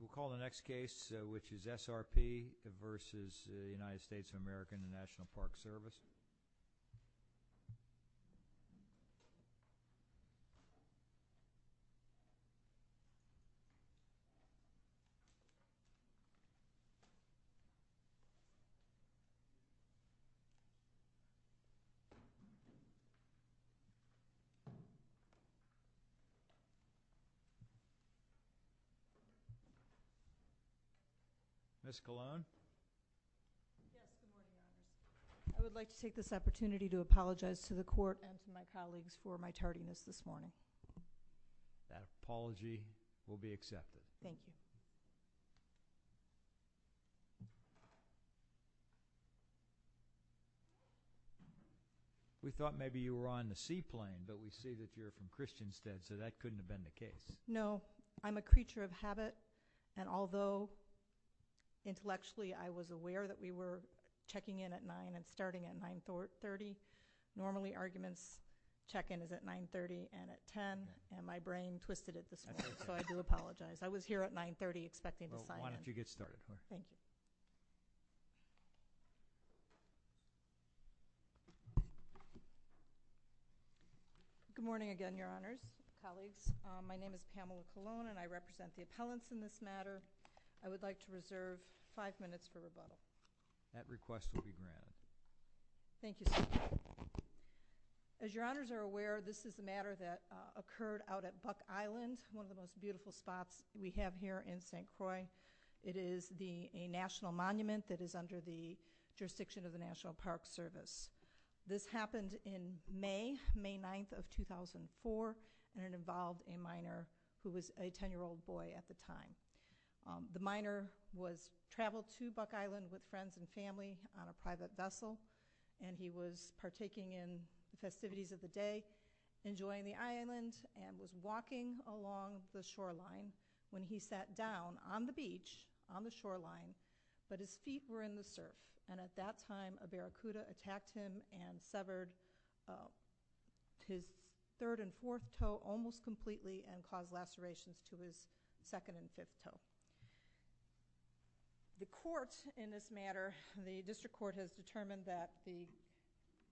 We'll call the next case, which is SRP versus the United States of America and the National Park Service. I would like to take this opportunity to apologize to the court and to my colleagues for my tardiness this morning. That apology will be accepted. Thank you. We thought maybe you were on the seaplane, but we see that you're from Christianstead, so that couldn't have been the case. No, I'm a creature of habit, and although intellectually I was aware that we were checking in at 9 and starting at 9.30, normally arguments check-in is at 9.30 and at 10, and my brain twisted it this morning, so I do apologize. I was here at 9.30 expecting to sign in. Well, why don't you get started. Thank you. Good morning again, Your Honors, colleagues. My name is Pamela Colon, and I represent the appellants in this matter. I would like to reserve five minutes for rebuttal. That request will be granted. Thank you, sir. As Your Honors are aware, this is a matter that occurred out at Buck Island, one of the most beautiful spots we have here in St. Croix. It is a national monument that is under the jurisdiction of the National Park Service. This happened in May, May 9th of 2004, and it involved a miner who was a 10-year-old boy at the time. The miner was traveling to Buck Island with friends and family on a private vessel, and he was partaking in the festivities of the day, enjoying the island, and was walking along the shoreline when he sat down on the beach on the shoreline, but his feet were in the surf, and at that time, a barracuda attacked him and severed his third and fourth toe almost completely and caused lacerations to his second and fifth toe. The court in this matter, the district court, has determined that the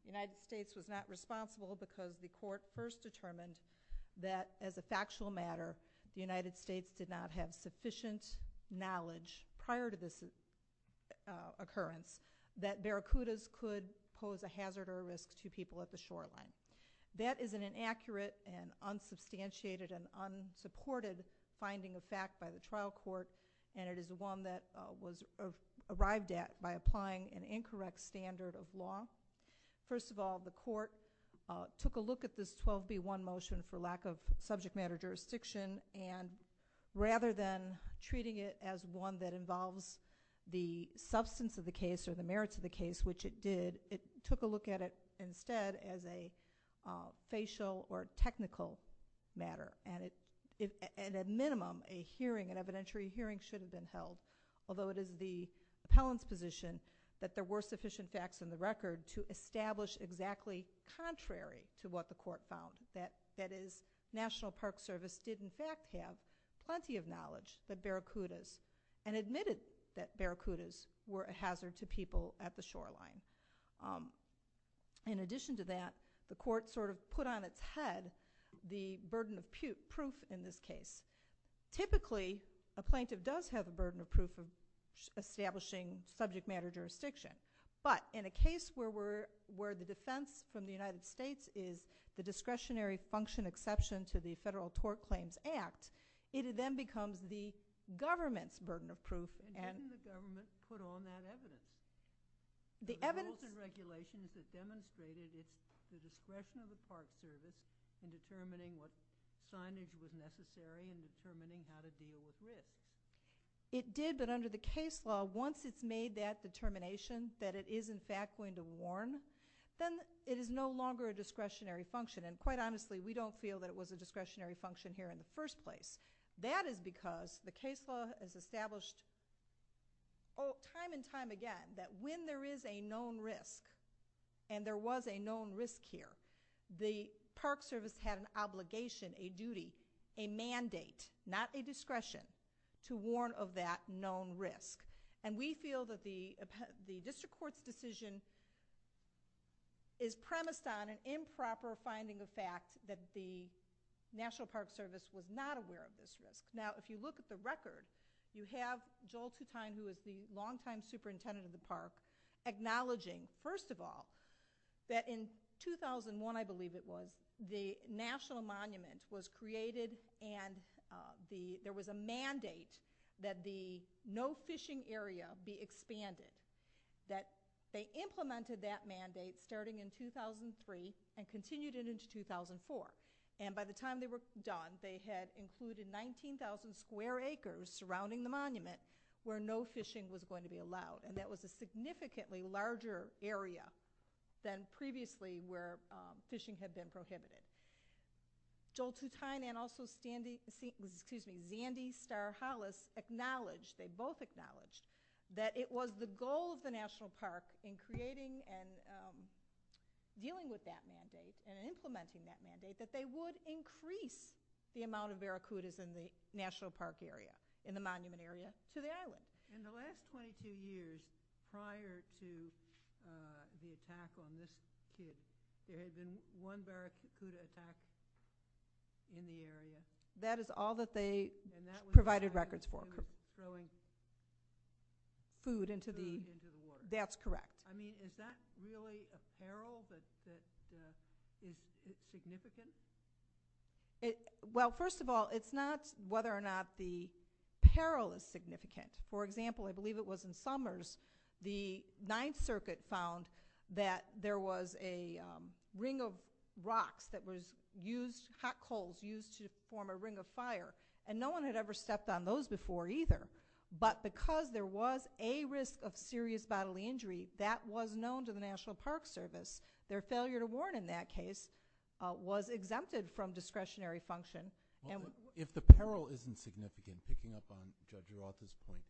United States was not responsible because the court first determined that, as a factual matter, the United States did not have sufficient knowledge prior to this occurrence that barracudas could pose a hazard or a risk to people at the shoreline. That is an inaccurate and unsubstantiated and unsupported finding of fact by the trial court, and it is the one that was arrived at by applying an incorrect standard of law. First of all, the court took a look at this 12B1 motion for lack of subject matter jurisdiction, and rather than treating it as one that involves the substance of the case or the merits of the case, which it did, it took a look at it instead as a facial or technical matter, and at minimum, an evidentiary hearing should have been held, although it is the appellant's position that there were sufficient facts in the record to establish exactly contrary to what the court found, that is, National Park Service did in fact have plenty of knowledge that barracudas and admitted that barracudas were a hazard to people at the shoreline. In addition to that, the court sort of put on its head the burden of proof in this case. Typically, a plaintiff does have a burden of proof of establishing subject matter jurisdiction, but in a case where the defense from the United States is the discretionary function exception to the Federal Tort Claims Act, it then becomes the government's burden of proof. And didn't the government put on that evidence? The evidence... The rules and regulations that demonstrated the discretion of the Park Service in determining what signage was necessary and determining how to deal with risk. It did, but under the case law, once it's made that determination that it is in fact going to warn, then it is no longer a discretionary function. And quite honestly, we don't feel that it was a discretionary function here in the first place. That is because the case law has established time and time again that when there is a known risk and there was a known risk here, the Park Service had an obligation, a duty, a mandate, not a discretion, to warn of that known risk. And we feel that the district court's decision is premised on an improper finding of fact that the National Park Service was not aware of this risk. Now, if you look at the record, you have Joel Tutine, who is the longtime superintendent of the park, acknowledging, first of all, that in 2001, I believe it was, the national monument was created and there was a mandate that the no fishing area be expanded. That they implemented that mandate starting in 2003 and continued it into 2004. And by the time they were done, they had included 19,000 square acres surrounding the monument where no fishing was going to be allowed. And that was a significantly larger area than previously where fishing had been prohibited. Joel Tutine and also Xandy Starr Hollis acknowledged, they both acknowledged, that it was the goal of the National Park in creating and dealing with that mandate and implementing that mandate that they would increase the amount of barracudas in the National Park area, in the monument area, to the island. In the last 22 years prior to the attack on this piece, there has been one barracuda attack in the area? That is all that they provided records for. And that was all that they were throwing food into the water? That's correct. I mean, is that really a peril that is significant? Well, first of all, it's not whether or not the peril is significant. For example, I believe it was in summers, the Ninth Circuit found that there was a ring of rocks that was used, hot coals used to form a ring of fire. And no one had ever stepped on those before either. But because there was a risk of serious bodily injury, that was known to the National Park Service. Their failure to warn in that case was exempted from discretionary function. If the peril isn't significant, picking up on Judge Urata's point,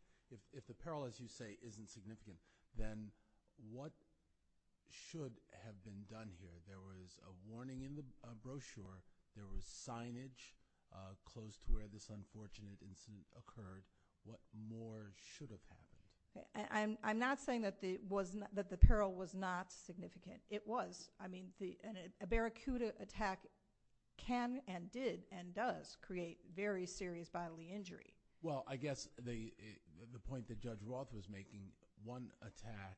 if the peril, as you say, isn't significant, then what should have been done here? There was a warning in the brochure. There was signage close to where this unfortunate incident occurred. What more should have happened? I'm not saying that the peril was not significant. It was. I mean, a barracuda attack can and did and does create very serious bodily injury. Well, I guess the point that Judge Roth was making, one attack,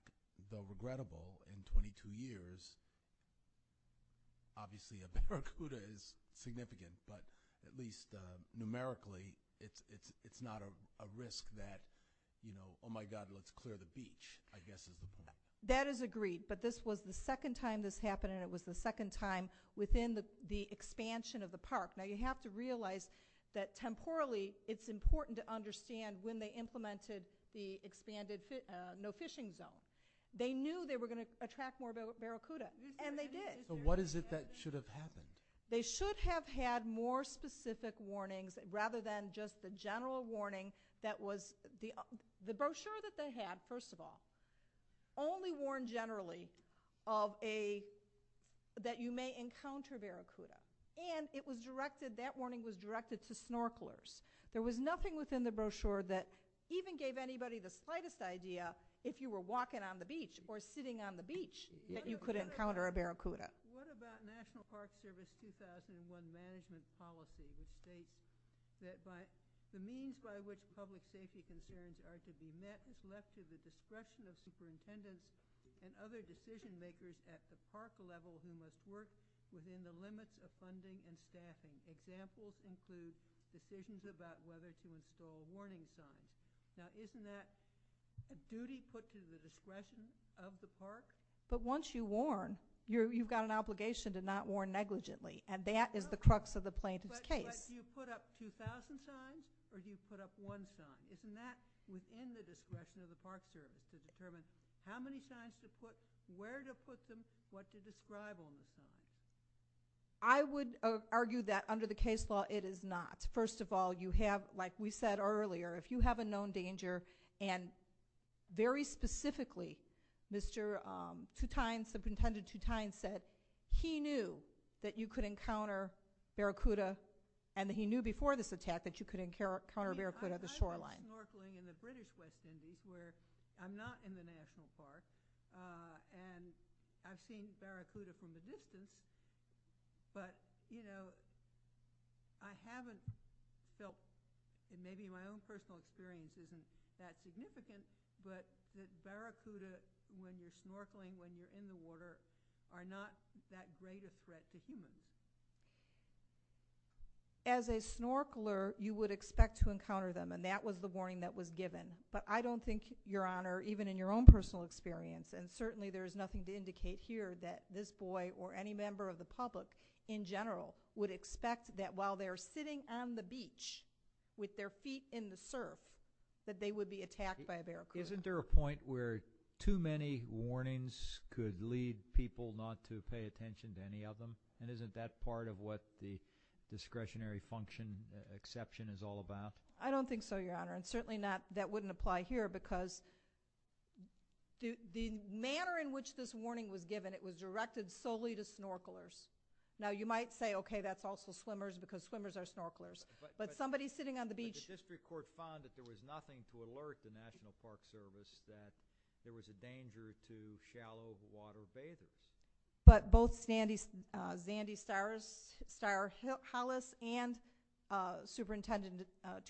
though regrettable, in 22 years, obviously a barracuda is significant, but at least numerically it's not a risk that, you know, oh, my God, let's clear the beach, I guess is the point. That is agreed, but this was the second time this happened, and it was the second time within the expansion of the park. Now, you have to realize that temporally it's important to understand when they implemented the expanded no fishing zone. They knew they were going to attract more barracuda, and they did. But what is it that should have happened? They should have had more specific warnings rather than just the general warning that was the brochure that they had, first of all, only warned generally that you may encounter barracuda. And it was directed, that warning was directed to snorkelers. There was nothing within the brochure that even gave anybody the slightest idea, if you were walking on the beach or sitting on the beach, that you could encounter a barracuda. What about National Park Service 2001 management policy, which states that the means by which public safety concerns are to be met is left to the discretion of superintendents and other decision makers at the park level who must work within the limits of funding and staffing. Examples include decisions about whether to install warning signs. Now, isn't that a duty put to the discretion of the park? But once you warn, you've got an obligation to not warn negligently, and that is the crux of the plaintiff's case. But you put up 2,000 signs, or do you put up one sign? Isn't that within the discretion of the park service to determine how many signs to put, where to put them, what to describe on the signs? I would argue that under the case law, it is not. First of all, you have, like we said earlier, if you have a known danger, and very specifically, Mr. Toutain, Superintendent Toutain said he knew that you could encounter barracuda, and he knew before this attack that you could encounter barracuda at the shoreline. I've been snorkeling in the British West Indies where I'm not in the National Park, and I've seen barracuda from the distance, but, you know, I haven't felt, and maybe my own personal experience isn't that significant, but that barracuda, when you're snorkeling, when you're in the water, are not that great a threat to humans. As a snorkeler, you would expect to encounter them, and that was the warning that was given. But I don't think, Your Honor, even in your own personal experience, and certainly there is nothing to indicate here that this boy or any member of the public in general would expect that while they're sitting on the beach with their feet in the surf that they would be attacked by a barracuda. Isn't there a point where too many warnings could lead people not to pay attention to any of them, and isn't that part of what the discretionary function exception is all about? I don't think so, Your Honor, and certainly that wouldn't apply here because the manner in which this warning was given, it was directed solely to snorkelers. Now, you might say, okay, that's also swimmers because swimmers are snorkelers, but somebody sitting on the beach. But the district court found that there was nothing to alert the National Park Service that there was a danger to shallow water bathers. But both Zandy Starr-Hollis and Superintendent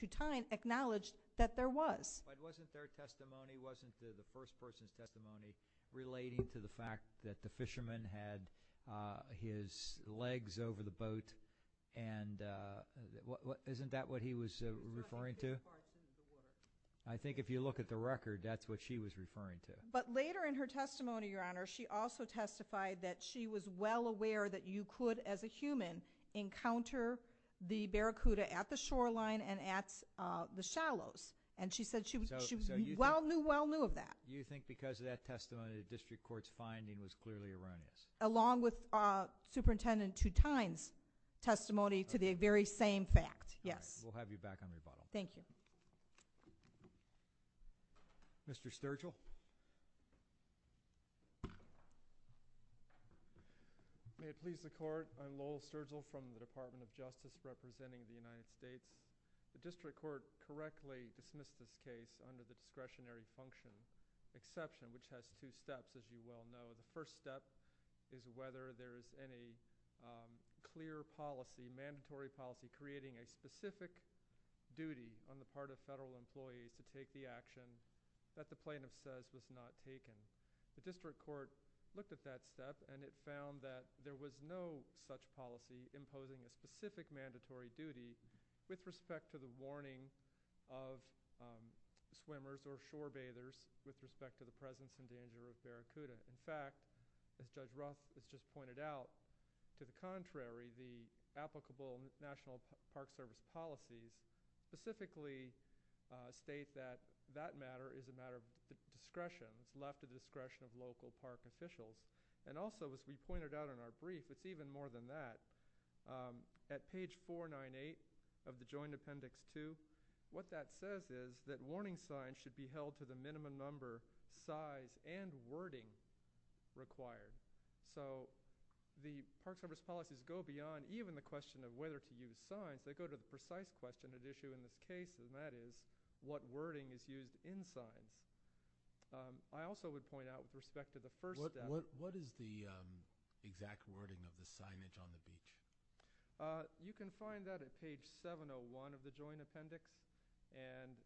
Tutine acknowledged that there was. But wasn't their testimony, wasn't the first person's testimony, relating to the fact that the fisherman had his legs over the boat? And isn't that what he was referring to? I think if you look at the record, that's what she was referring to. But later in her testimony, Your Honor, she also testified that she was well aware that you could, as a human, encounter the barracuda at the shoreline and at the shallows. And she said she well knew, well knew of that. You think because of that testimony, the district court's finding was clearly erroneous? Along with Superintendent Tutine's testimony to the very same fact, yes. We'll have you back on the bottle. Thank you. Mr. Sturgill. May it please the Court, I'm Lowell Sturgill from the Department of Justice representing the United States. The district court correctly dismissed this case under the discretionary function exception, which has two steps, as you well know. The first step is whether there is any clear policy, mandatory policy, creating a specific duty on the part of federal employees to take the action that the plaintiff says was not taken. The district court looked at that step, and it found that there was no such policy imposing a specific mandatory duty with respect to the warning of swimmers or shore bathers with respect to the presence and danger of barracuda. In fact, as Judge Ruff has just pointed out, to the contrary, the applicable National Park Service policy specifically states that that matter is a matter of discretion. It's left at the discretion of local park officials. And also, as we pointed out in our brief, it's even more than that. At page 498 of the Joint Appendix 2, what that says is that warning signs should be held to the minimum number, size, and wording required. So the Park Service policies go beyond even the question of whether to use signs. They go to the precise question at issue in this case, and that is what wording is used in signs. I also would point out with respect to the first step what is the exact wording of the signage on the beach? You can find that at page 701 of the Joint Appendix. And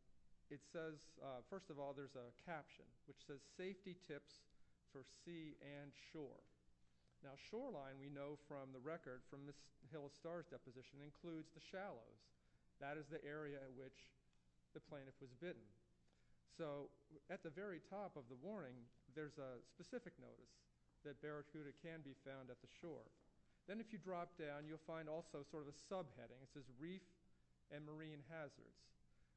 it says, first of all, there's a caption which says, Safety Tips for Sea and Shore. Now shoreline, we know from the record from the Hill of Stars deposition, includes the shallows. So at the very top of the warning, there's a specific notice that barracuda can be found at the shore. Then if you drop down, you'll find also sort of a subheading. It says, Reef and Marine Hazards.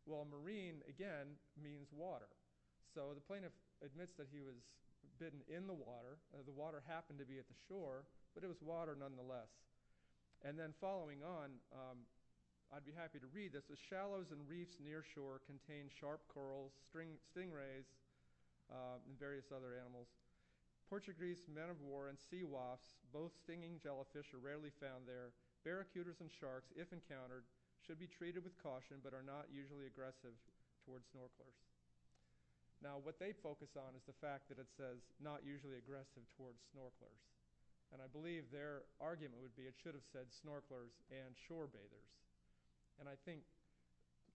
Well, marine, again, means water. So the plaintiff admits that he was bitten in the water. The water happened to be at the shore, but it was water nonetheless. And then following on, I'd be happy to read this. The shallows and reefs near shore contain sharp coral, stingrays, and various other animals. Portuguese men-of-war and sea wasps, both stinging jellyfish, are rarely found there. Barracudas and sharks, if encountered, should be treated with caution, but are not usually aggressive towards snorkelers. Now what they focus on is the fact that it says, not usually aggressive towards snorkelers. And I believe their argument would be it should have said snorkelers and shore baiters. And I think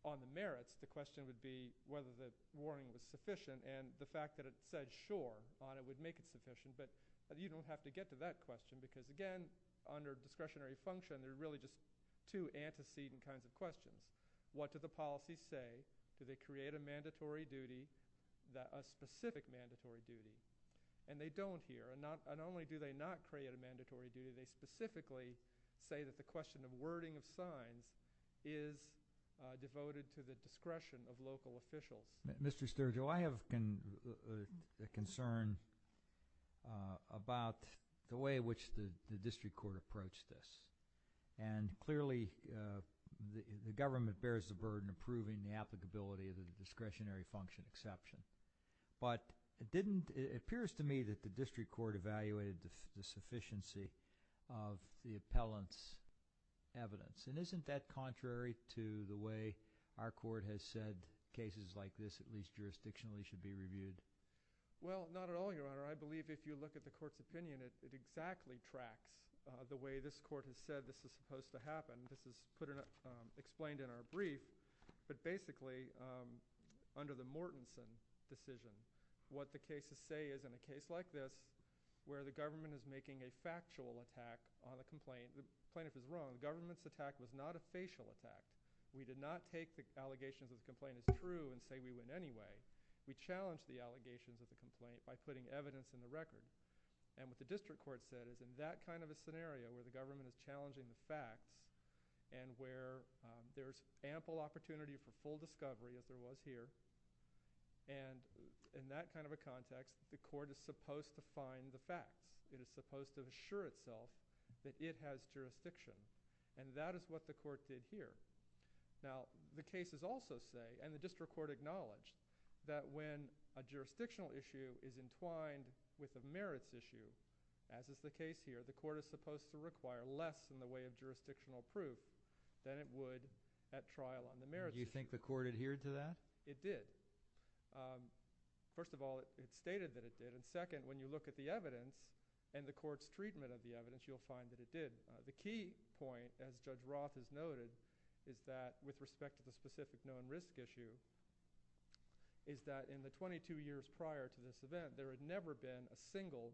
on the merits, the question would be whether the warning was sufficient. And the fact that it said shore on it would make it sufficient. But you don't have to get to that question because, again, under discretionary function, there are really just two antecedent kinds of questions. What do the policies say? Do they create a mandatory duty, a specific mandatory duty? And they don't here. And not only do they not create a mandatory duty, they specifically say that the question of wording of signs is devoted to the discretion of local officials. Mr. Sturgill, I have a concern about the way in which the district court approached this. And clearly the government bears the burden of proving the applicability of the discretionary function exception. But it appears to me that the district court evaluated the sufficiency of the appellant's evidence. And isn't that contrary to the way our court has said cases like this, at least jurisdictionally, should be reviewed? Well, not at all, Your Honor. I believe if you look at the court's opinion, it exactly tracks the way this court has said this is supposed to happen. This is explained in our brief. But basically, under the Mortenson decision, what the cases say is in a case like this where the government is making a factual attack on a complaint, the plaintiff is wrong. The government's attack was not a facial attack. We did not take the allegations of the complaint as true and say we would anyway. We challenged the allegations of the complaint by putting evidence in the record. And what the district court said is in that kind of a scenario where the government is challenging the facts and where there's ample opportunity for full discovery, as there was here, and in that kind of a context, the court is supposed to find the facts. It is supposed to assure itself that it has jurisdiction. And that is what the court did here. Now, the cases also say, and the district court acknowledged, that when a jurisdictional issue is inclined with a merits issue, as is the case here, the court is supposed to require less in the way of jurisdictional proof than it would at trial on the merits. Do you think the court adhered to that? It did. First of all, it stated that it did. And second, when you look at the evidence and the court's treatment of the evidence, you'll find that it did. The key point, as Judge Roth has noted, is that with respect to the specific known risk issue, is that in the 22 years prior to this event, there had never been a single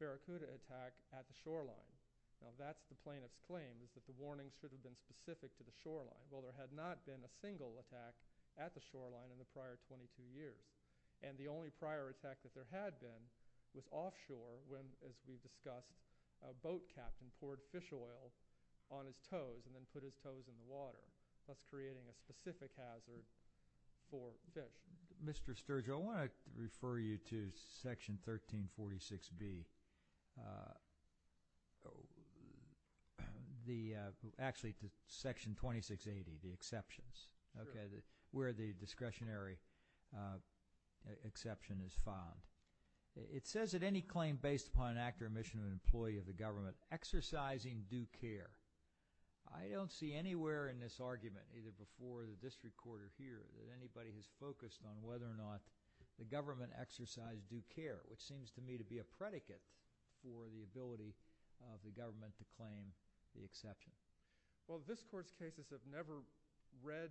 barracuda attack at the shoreline. Now, that's the plaintiff's claim, is that the warnings should have been specific to the shoreline. Well, there had not been a single attack at the shoreline in the prior 22 years. And the only prior attack that there had been was offshore when, as we discussed, a boat captain poured fish oil on his toes and then put his toes in the water, thus creating a specific hazard for fish. Mr. Sturgill, I want to refer you to Section 1346B, actually to Section 2680, the exceptions, where the discretionary exception is found. It says that any claim based upon an act or omission of an employee of the government exercising due care. I don't see anywhere in this argument, either before the district court or here, that anybody has focused on whether or not the government exercised due care, which seems to me to be a predicate for the ability of the government to claim the exception. Well, this Court's cases have never read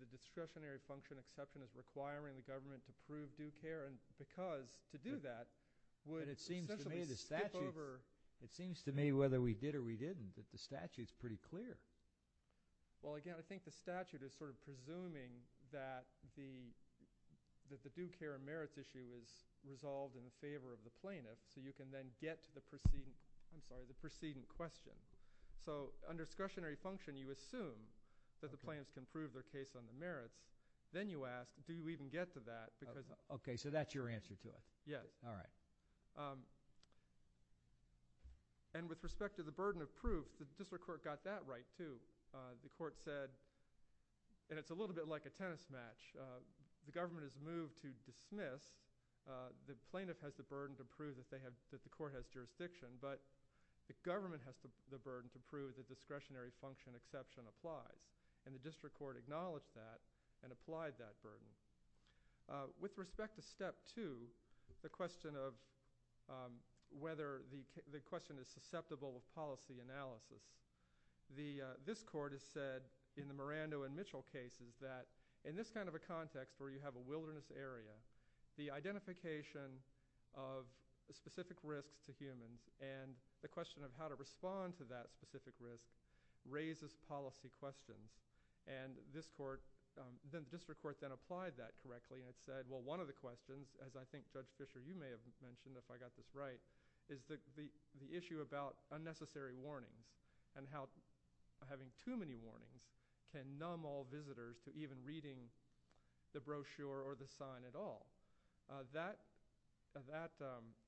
the discretionary function exception as requiring the government to prove due care, because to do that would essentially skip over— Well, again, I think the statute is sort of presuming that the due care and merits issue is resolved in favor of the plaintiff so you can then get to the preceding question. So under discretionary function, you assume that the plaintiffs can prove their case on the merits. Then you ask, do you even get to that? Okay, so that's your answer to it. Yes. All right. And with respect to the burden of proof, the district court got that right, too. The court said—and it's a little bit like a tennis match. The government is moved to dismiss. The plaintiff has the burden to prove that the court has jurisdiction, but the government has the burden to prove the discretionary function exception applies, and the district court acknowledged that and applied that burden. With respect to step two, the question of whether the question is susceptible of policy analysis, this court has said in the Miranda and Mitchell cases that in this kind of a context where you have a wilderness area, the identification of specific risks to humans and the question of how to respond to that specific risk raises policy questions. The district court then applied that correctly and it said, well, one of the questions, as I think Judge Fischer, you may have mentioned if I got this right, is the issue about unnecessary warnings and how having too many warnings can numb all visitors to even reading the brochure or the sign at all. That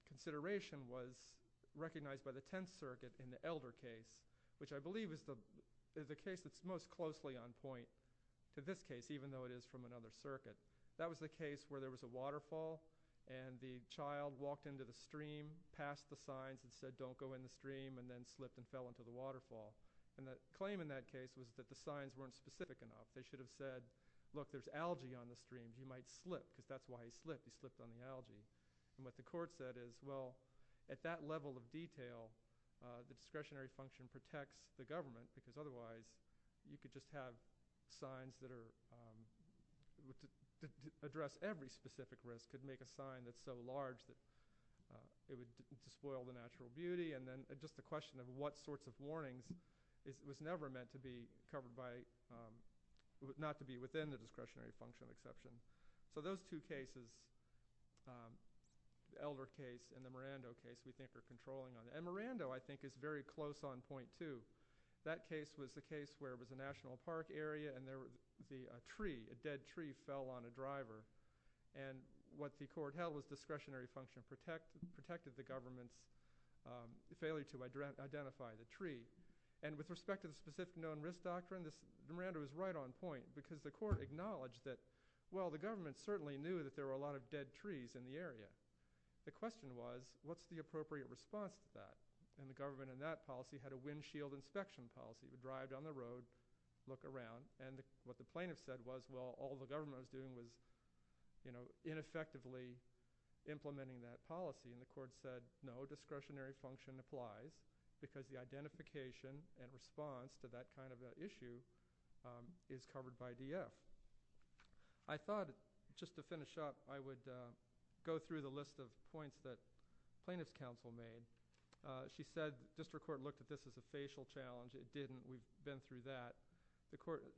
consideration was recognized by the Tenth Circuit in the Elder case, which I believe is the case that's most closely on point to this case, even though it is from another circuit. That was the case where there was a waterfall and the child walked into the stream, passed the signs and said, don't go in the stream, and then slipped and fell into the waterfall. The claim in that case was that the signs weren't specific enough. They should have said, look, there's algae on the stream. He might slip because that's why he slipped. He slipped on the algae. What the court said is, well, at that level of detail, the discretionary function protects the government because otherwise you could just have signs that address every specific risk, could make a sign that's so large that it would spoil the natural beauty. Then just the question of what sorts of warnings was never meant to be covered by – not to be within the discretionary function of exception. Those two cases, the Elder case and the Miranda case, we think are controlling on it. Miranda, I think, is very close on point, too. That case was the case where it was a national park area and a tree, a dead tree, fell on a driver. What the court held was discretionary function protected the government's failure to identify the tree. With respect to the specific known risk doctrine, Miranda was right on point because the court acknowledged that, well, the government certainly knew that there were a lot of dead trees in the area. The question was, what's the appropriate response to that? The government in that policy had a windshield inspection policy. You drive down the road, look around, and what the plaintiff said was, well, all the government was doing was ineffectively implementing that policy. The court said, no, discretionary function applies because the identification and response to that kind of issue is covered by DF. I thought, just to finish up, I would go through the list of points that plaintiff's counsel made. She said the district court looked at this as a facial challenge. It didn't. We've been through that.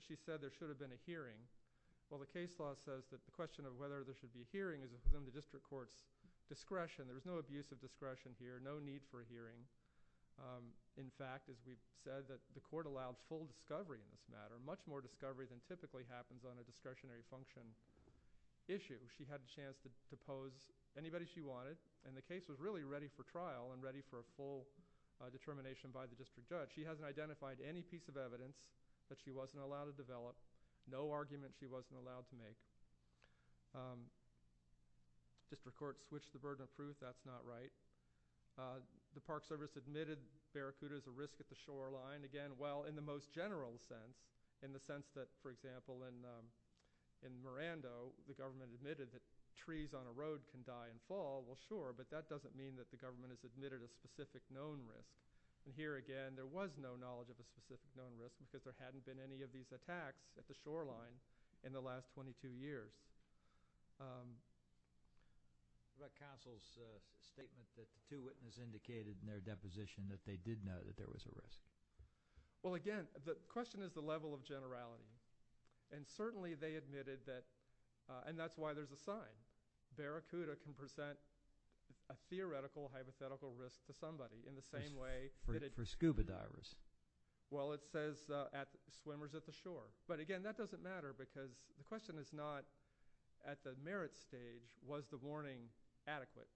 She said there should have been a hearing. Well, the case law says that the question of whether there should be a hearing is within the district court's discretion. There's no abuse of discretion here, no need for a hearing. In fact, as we've said, the court allowed full discovery in this matter, much more discovery than typically happens on a discretionary function issue. She had a chance to pose anybody she wanted, and the case was really ready for trial and ready for a full determination by the district judge. She hasn't identified any piece of evidence that she wasn't allowed to develop, no argument she wasn't allowed to make. The district court switched the burden of proof. That's not right. The Park Service admitted barracuda is a risk at the shoreline. Again, well, in the most general sense, in the sense that, for example, in Miranda, the government admitted that trees on a road can die and fall. Well, sure, but that doesn't mean that the government has admitted a specific known risk. Here again, there was no knowledge of a specific known risk because there hadn't been any of these attacks at the shoreline in the last 22 years. Is that counsel's statement that the two witnesses indicated in their deposition that they did know that there was a risk? Well, again, the question is the level of generality. Certainly, they admitted that, and that's why there's a sign. Barracuda can present a theoretical hypothetical risk to somebody in the same way. For scuba divers? Well, it says swimmers at the shore. But again, that doesn't matter because the question is not at the merit stage, was the warning adequate?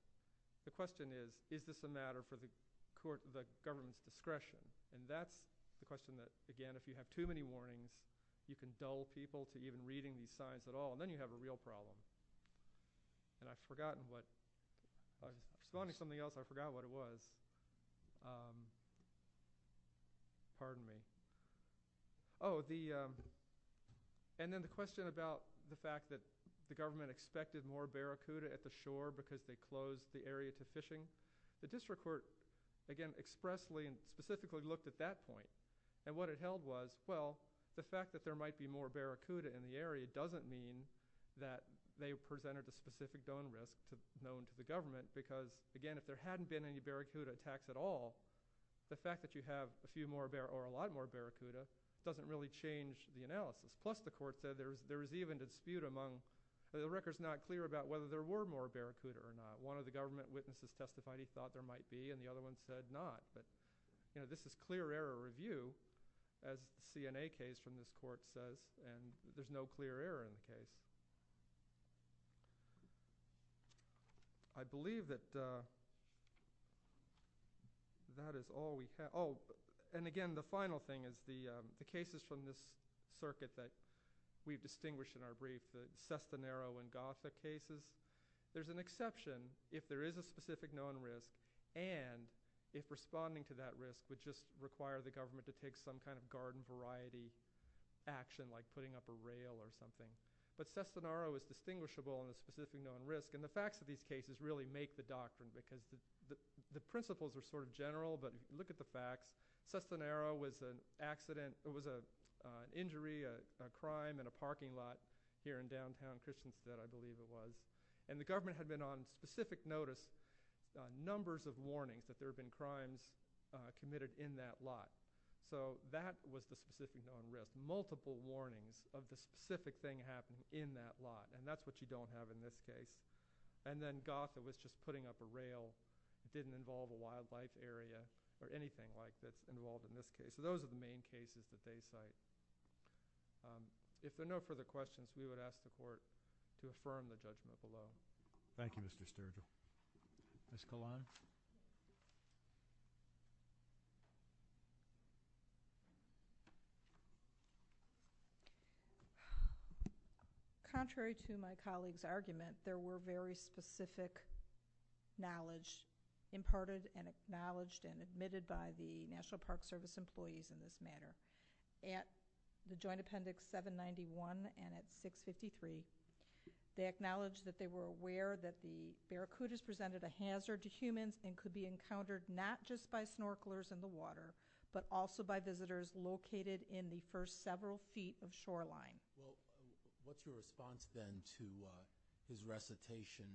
The question is, is this a matter for the government's discretion? And that's the question that, again, if you have too many warnings, you can dull people to even reading these signs at all, and then you have a real problem. I've forgotten what – I was going to do something else. I forgot what it was. Pardon me. Oh, and then the question about the fact that the government expected more barracuda at the shore because they closed the area to fishing. The district court, again, expressly and specifically looked at that point, and what it held was, well, the fact that there might be more barracuda in the area doesn't mean that they presented a specific donor risk known to the government because, again, if there hadn't been any barracuda attacks at all, the fact that you have a few more or a lot more barracuda doesn't really change the analysis. Plus, the court said there was even dispute among – the record's not clear about whether there were more barracuda or not. One of the government witnesses testified he thought there might be, and the other one said not. But this is clear error review, as the CNA case from this court says, and there's no clear error in the case. I believe that that is all we have. Oh, and again, the final thing is the cases from this circuit that we've distinguished in our brief, the Sestanero and Gotha cases, there's an exception if there is a specific known risk and if responding to that risk would just require the government to take some kind of garden variety action like putting up a rail or something. But Sestanero is distinguishable in the specific known risk, and the facts of these cases really make the doctrine because the principles are sort of general, but look at the facts. Sestanero was an accident – it was an injury, a crime, in a parking lot here in downtown Christchurch that I believe it was. And the government had been on specific notice on numbers of warnings that there had been crimes committed in that lot. So that was the specific known risk. There were multiple warnings of the specific thing happening in that lot, and that's what you don't have in this case. And then Gotha was just putting up a rail. It didn't involve a wildlife area or anything like that involved in this case. So those are the main cases that they cite. If there are no further questions, we would ask the Court to affirm the judgment below. Thank you, Mr. Sturgeon. Ms. Kolan? Contrary to my colleague's argument, there were very specific knowledge imparted and acknowledged and admitted by the National Park Service employees in this matter. At the Joint Appendix 791 and at 653, they acknowledged that they were aware that the barracudas presented a hazard to humans and could be encountered not just by snorkelers in the water, but also by visitors located in the first several feet of shoreline. What's your response then to his recitation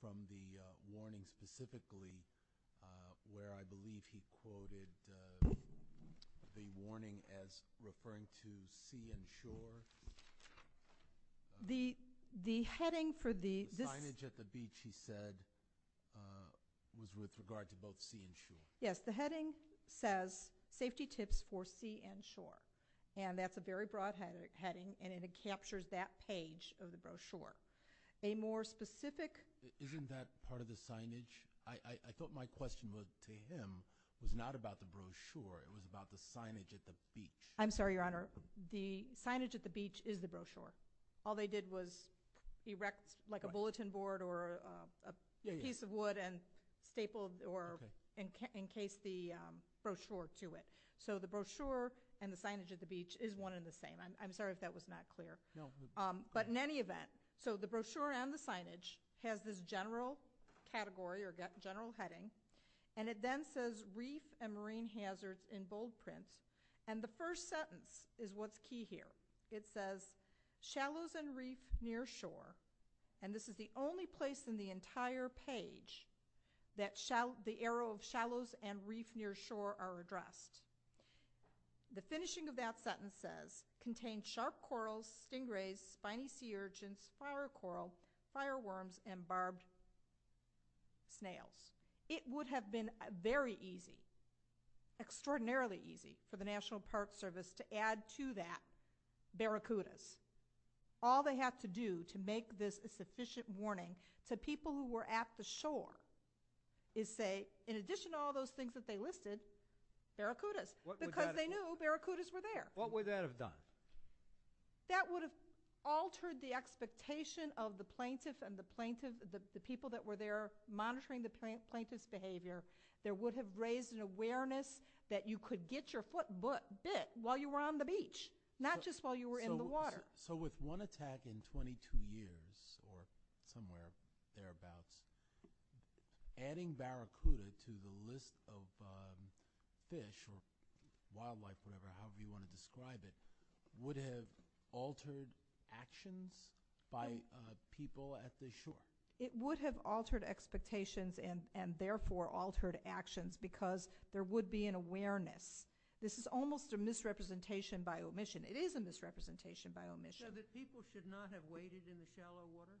from the warning specifically, where I believe he quoted the warning as referring to sea and shore? The signage at the beach, he said, was with regard to both sea and shore. Yes, the heading says, Safety Tips for Sea and Shore, and that's a very broad heading, and it captures that page of the brochure. Isn't that part of the signage? I thought my question to him was not about the brochure. It was about the signage at the beach. I'm sorry, Your Honor. The signage at the beach is the brochure. All they did was erect a bulletin board or a piece of wood and stapled or encased the brochure to it. So the brochure and the signage at the beach is one and the same. I'm sorry if that was not clear. But in any event, so the brochure and the signage has this general category or general heading, and it then says, Reef and Marine Hazards in Bold Print, and the first sentence is what's key here. It says, Shallows and Reef Near Shore, and this is the only place in the entire page that the arrow of shallows and reef near shore are addressed. The finishing of that sentence says, Contained sharp corals, stingrays, spiny sea urchins, flower coral, fireworms, and barbed snails. It would have been very easy, extraordinarily easy, for the National Park Service to add to that barracudas. All they have to do to make this a sufficient warning to people who were at the shore is say, In addition to all those things that they listed, barracudas, because they knew barracudas were there. What would that have done? That would have altered the expectation of the plaintiff and the people that were there monitoring the plaintiff's behavior. There would have raised an awareness that you could get your foot bit while you were on the beach, not just while you were in the water. So with one attack in 22 years or somewhere thereabouts, adding barracuda to the list of fish or wildlife, however you want to describe it, would have altered actions by people at the shore. It would have altered expectations and therefore altered actions because there would be an awareness. This is almost a misrepresentation by omission. It is a misrepresentation by omission. So the people should not have waded in the shallow water?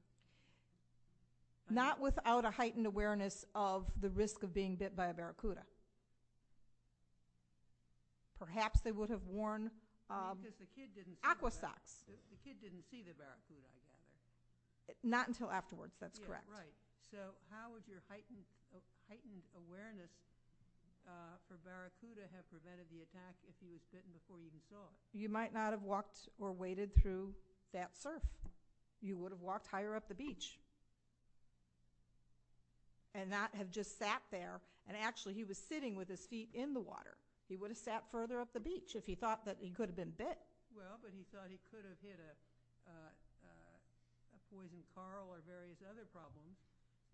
Not without a heightened awareness of the risk of being bit by a barracuda. Perhaps they would have worn aqua socks. The kid didn't see the barracuda. Not until afterwards, that's correct. So how would your heightened awareness for barracuda have prevented the attack if he was bitten before you even saw it? You might not have walked or waded through that surf. You would have walked higher up the beach and not have just sat there. And actually he was sitting with his feet in the water. He would have sat further up the beach if he thought that he could have been bit. Well, but he thought he could have hit a poison coral or various other problems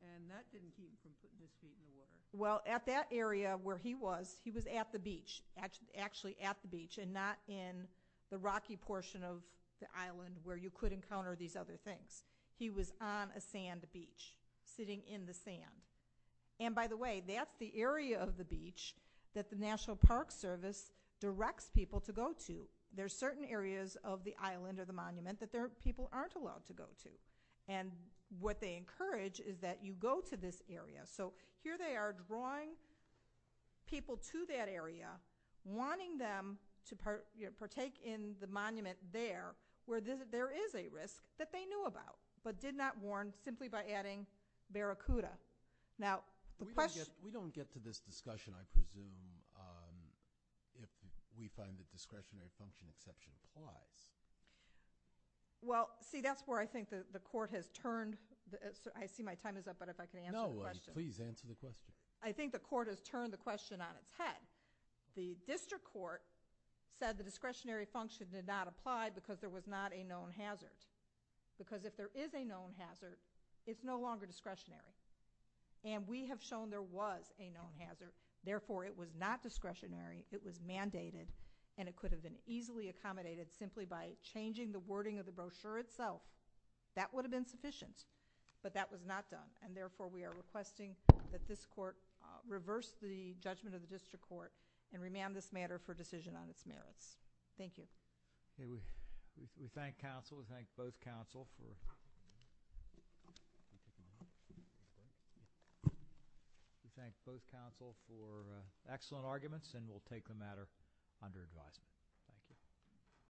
and that didn't keep his feet in the water. Well, at that area where he was, he was at the beach, actually at the beach and not in the rocky portion of the island where you could encounter these other things. He was on a sand beach, sitting in the sand. And by the way, that's the area of the beach that the National Park Service directs people to go to. There are certain areas of the island or the monument that people aren't allowed to go to. And what they encourage is that you go to this area. So here they are drawing people to that area, wanting them to partake in the monument there where there is a risk that they knew about but did not warn simply by adding barracuda. Now, the question... We don't get to this discussion, I presume, if we find that discretionary function exception applies. Well, see, that's where I think the court has turned. I see my time is up, but if I can answer the question. No, please answer the question. I think the court has turned the question on its head. The district court said the discretionary function did not apply because there was not a known hazard. Because if there is a known hazard, it's no longer discretionary. And we have shown there was a known hazard. Therefore, it was not discretionary, it was mandated, and it could have been easily accommodated simply by changing the wording of the brochure itself. That would have been sufficient, but that was not done. And therefore, we are requesting that this court and remand this matter for decision on its merits. Thank you. We thank counsel. We thank both counsel for excellent arguments, and we'll take the matter under advisement.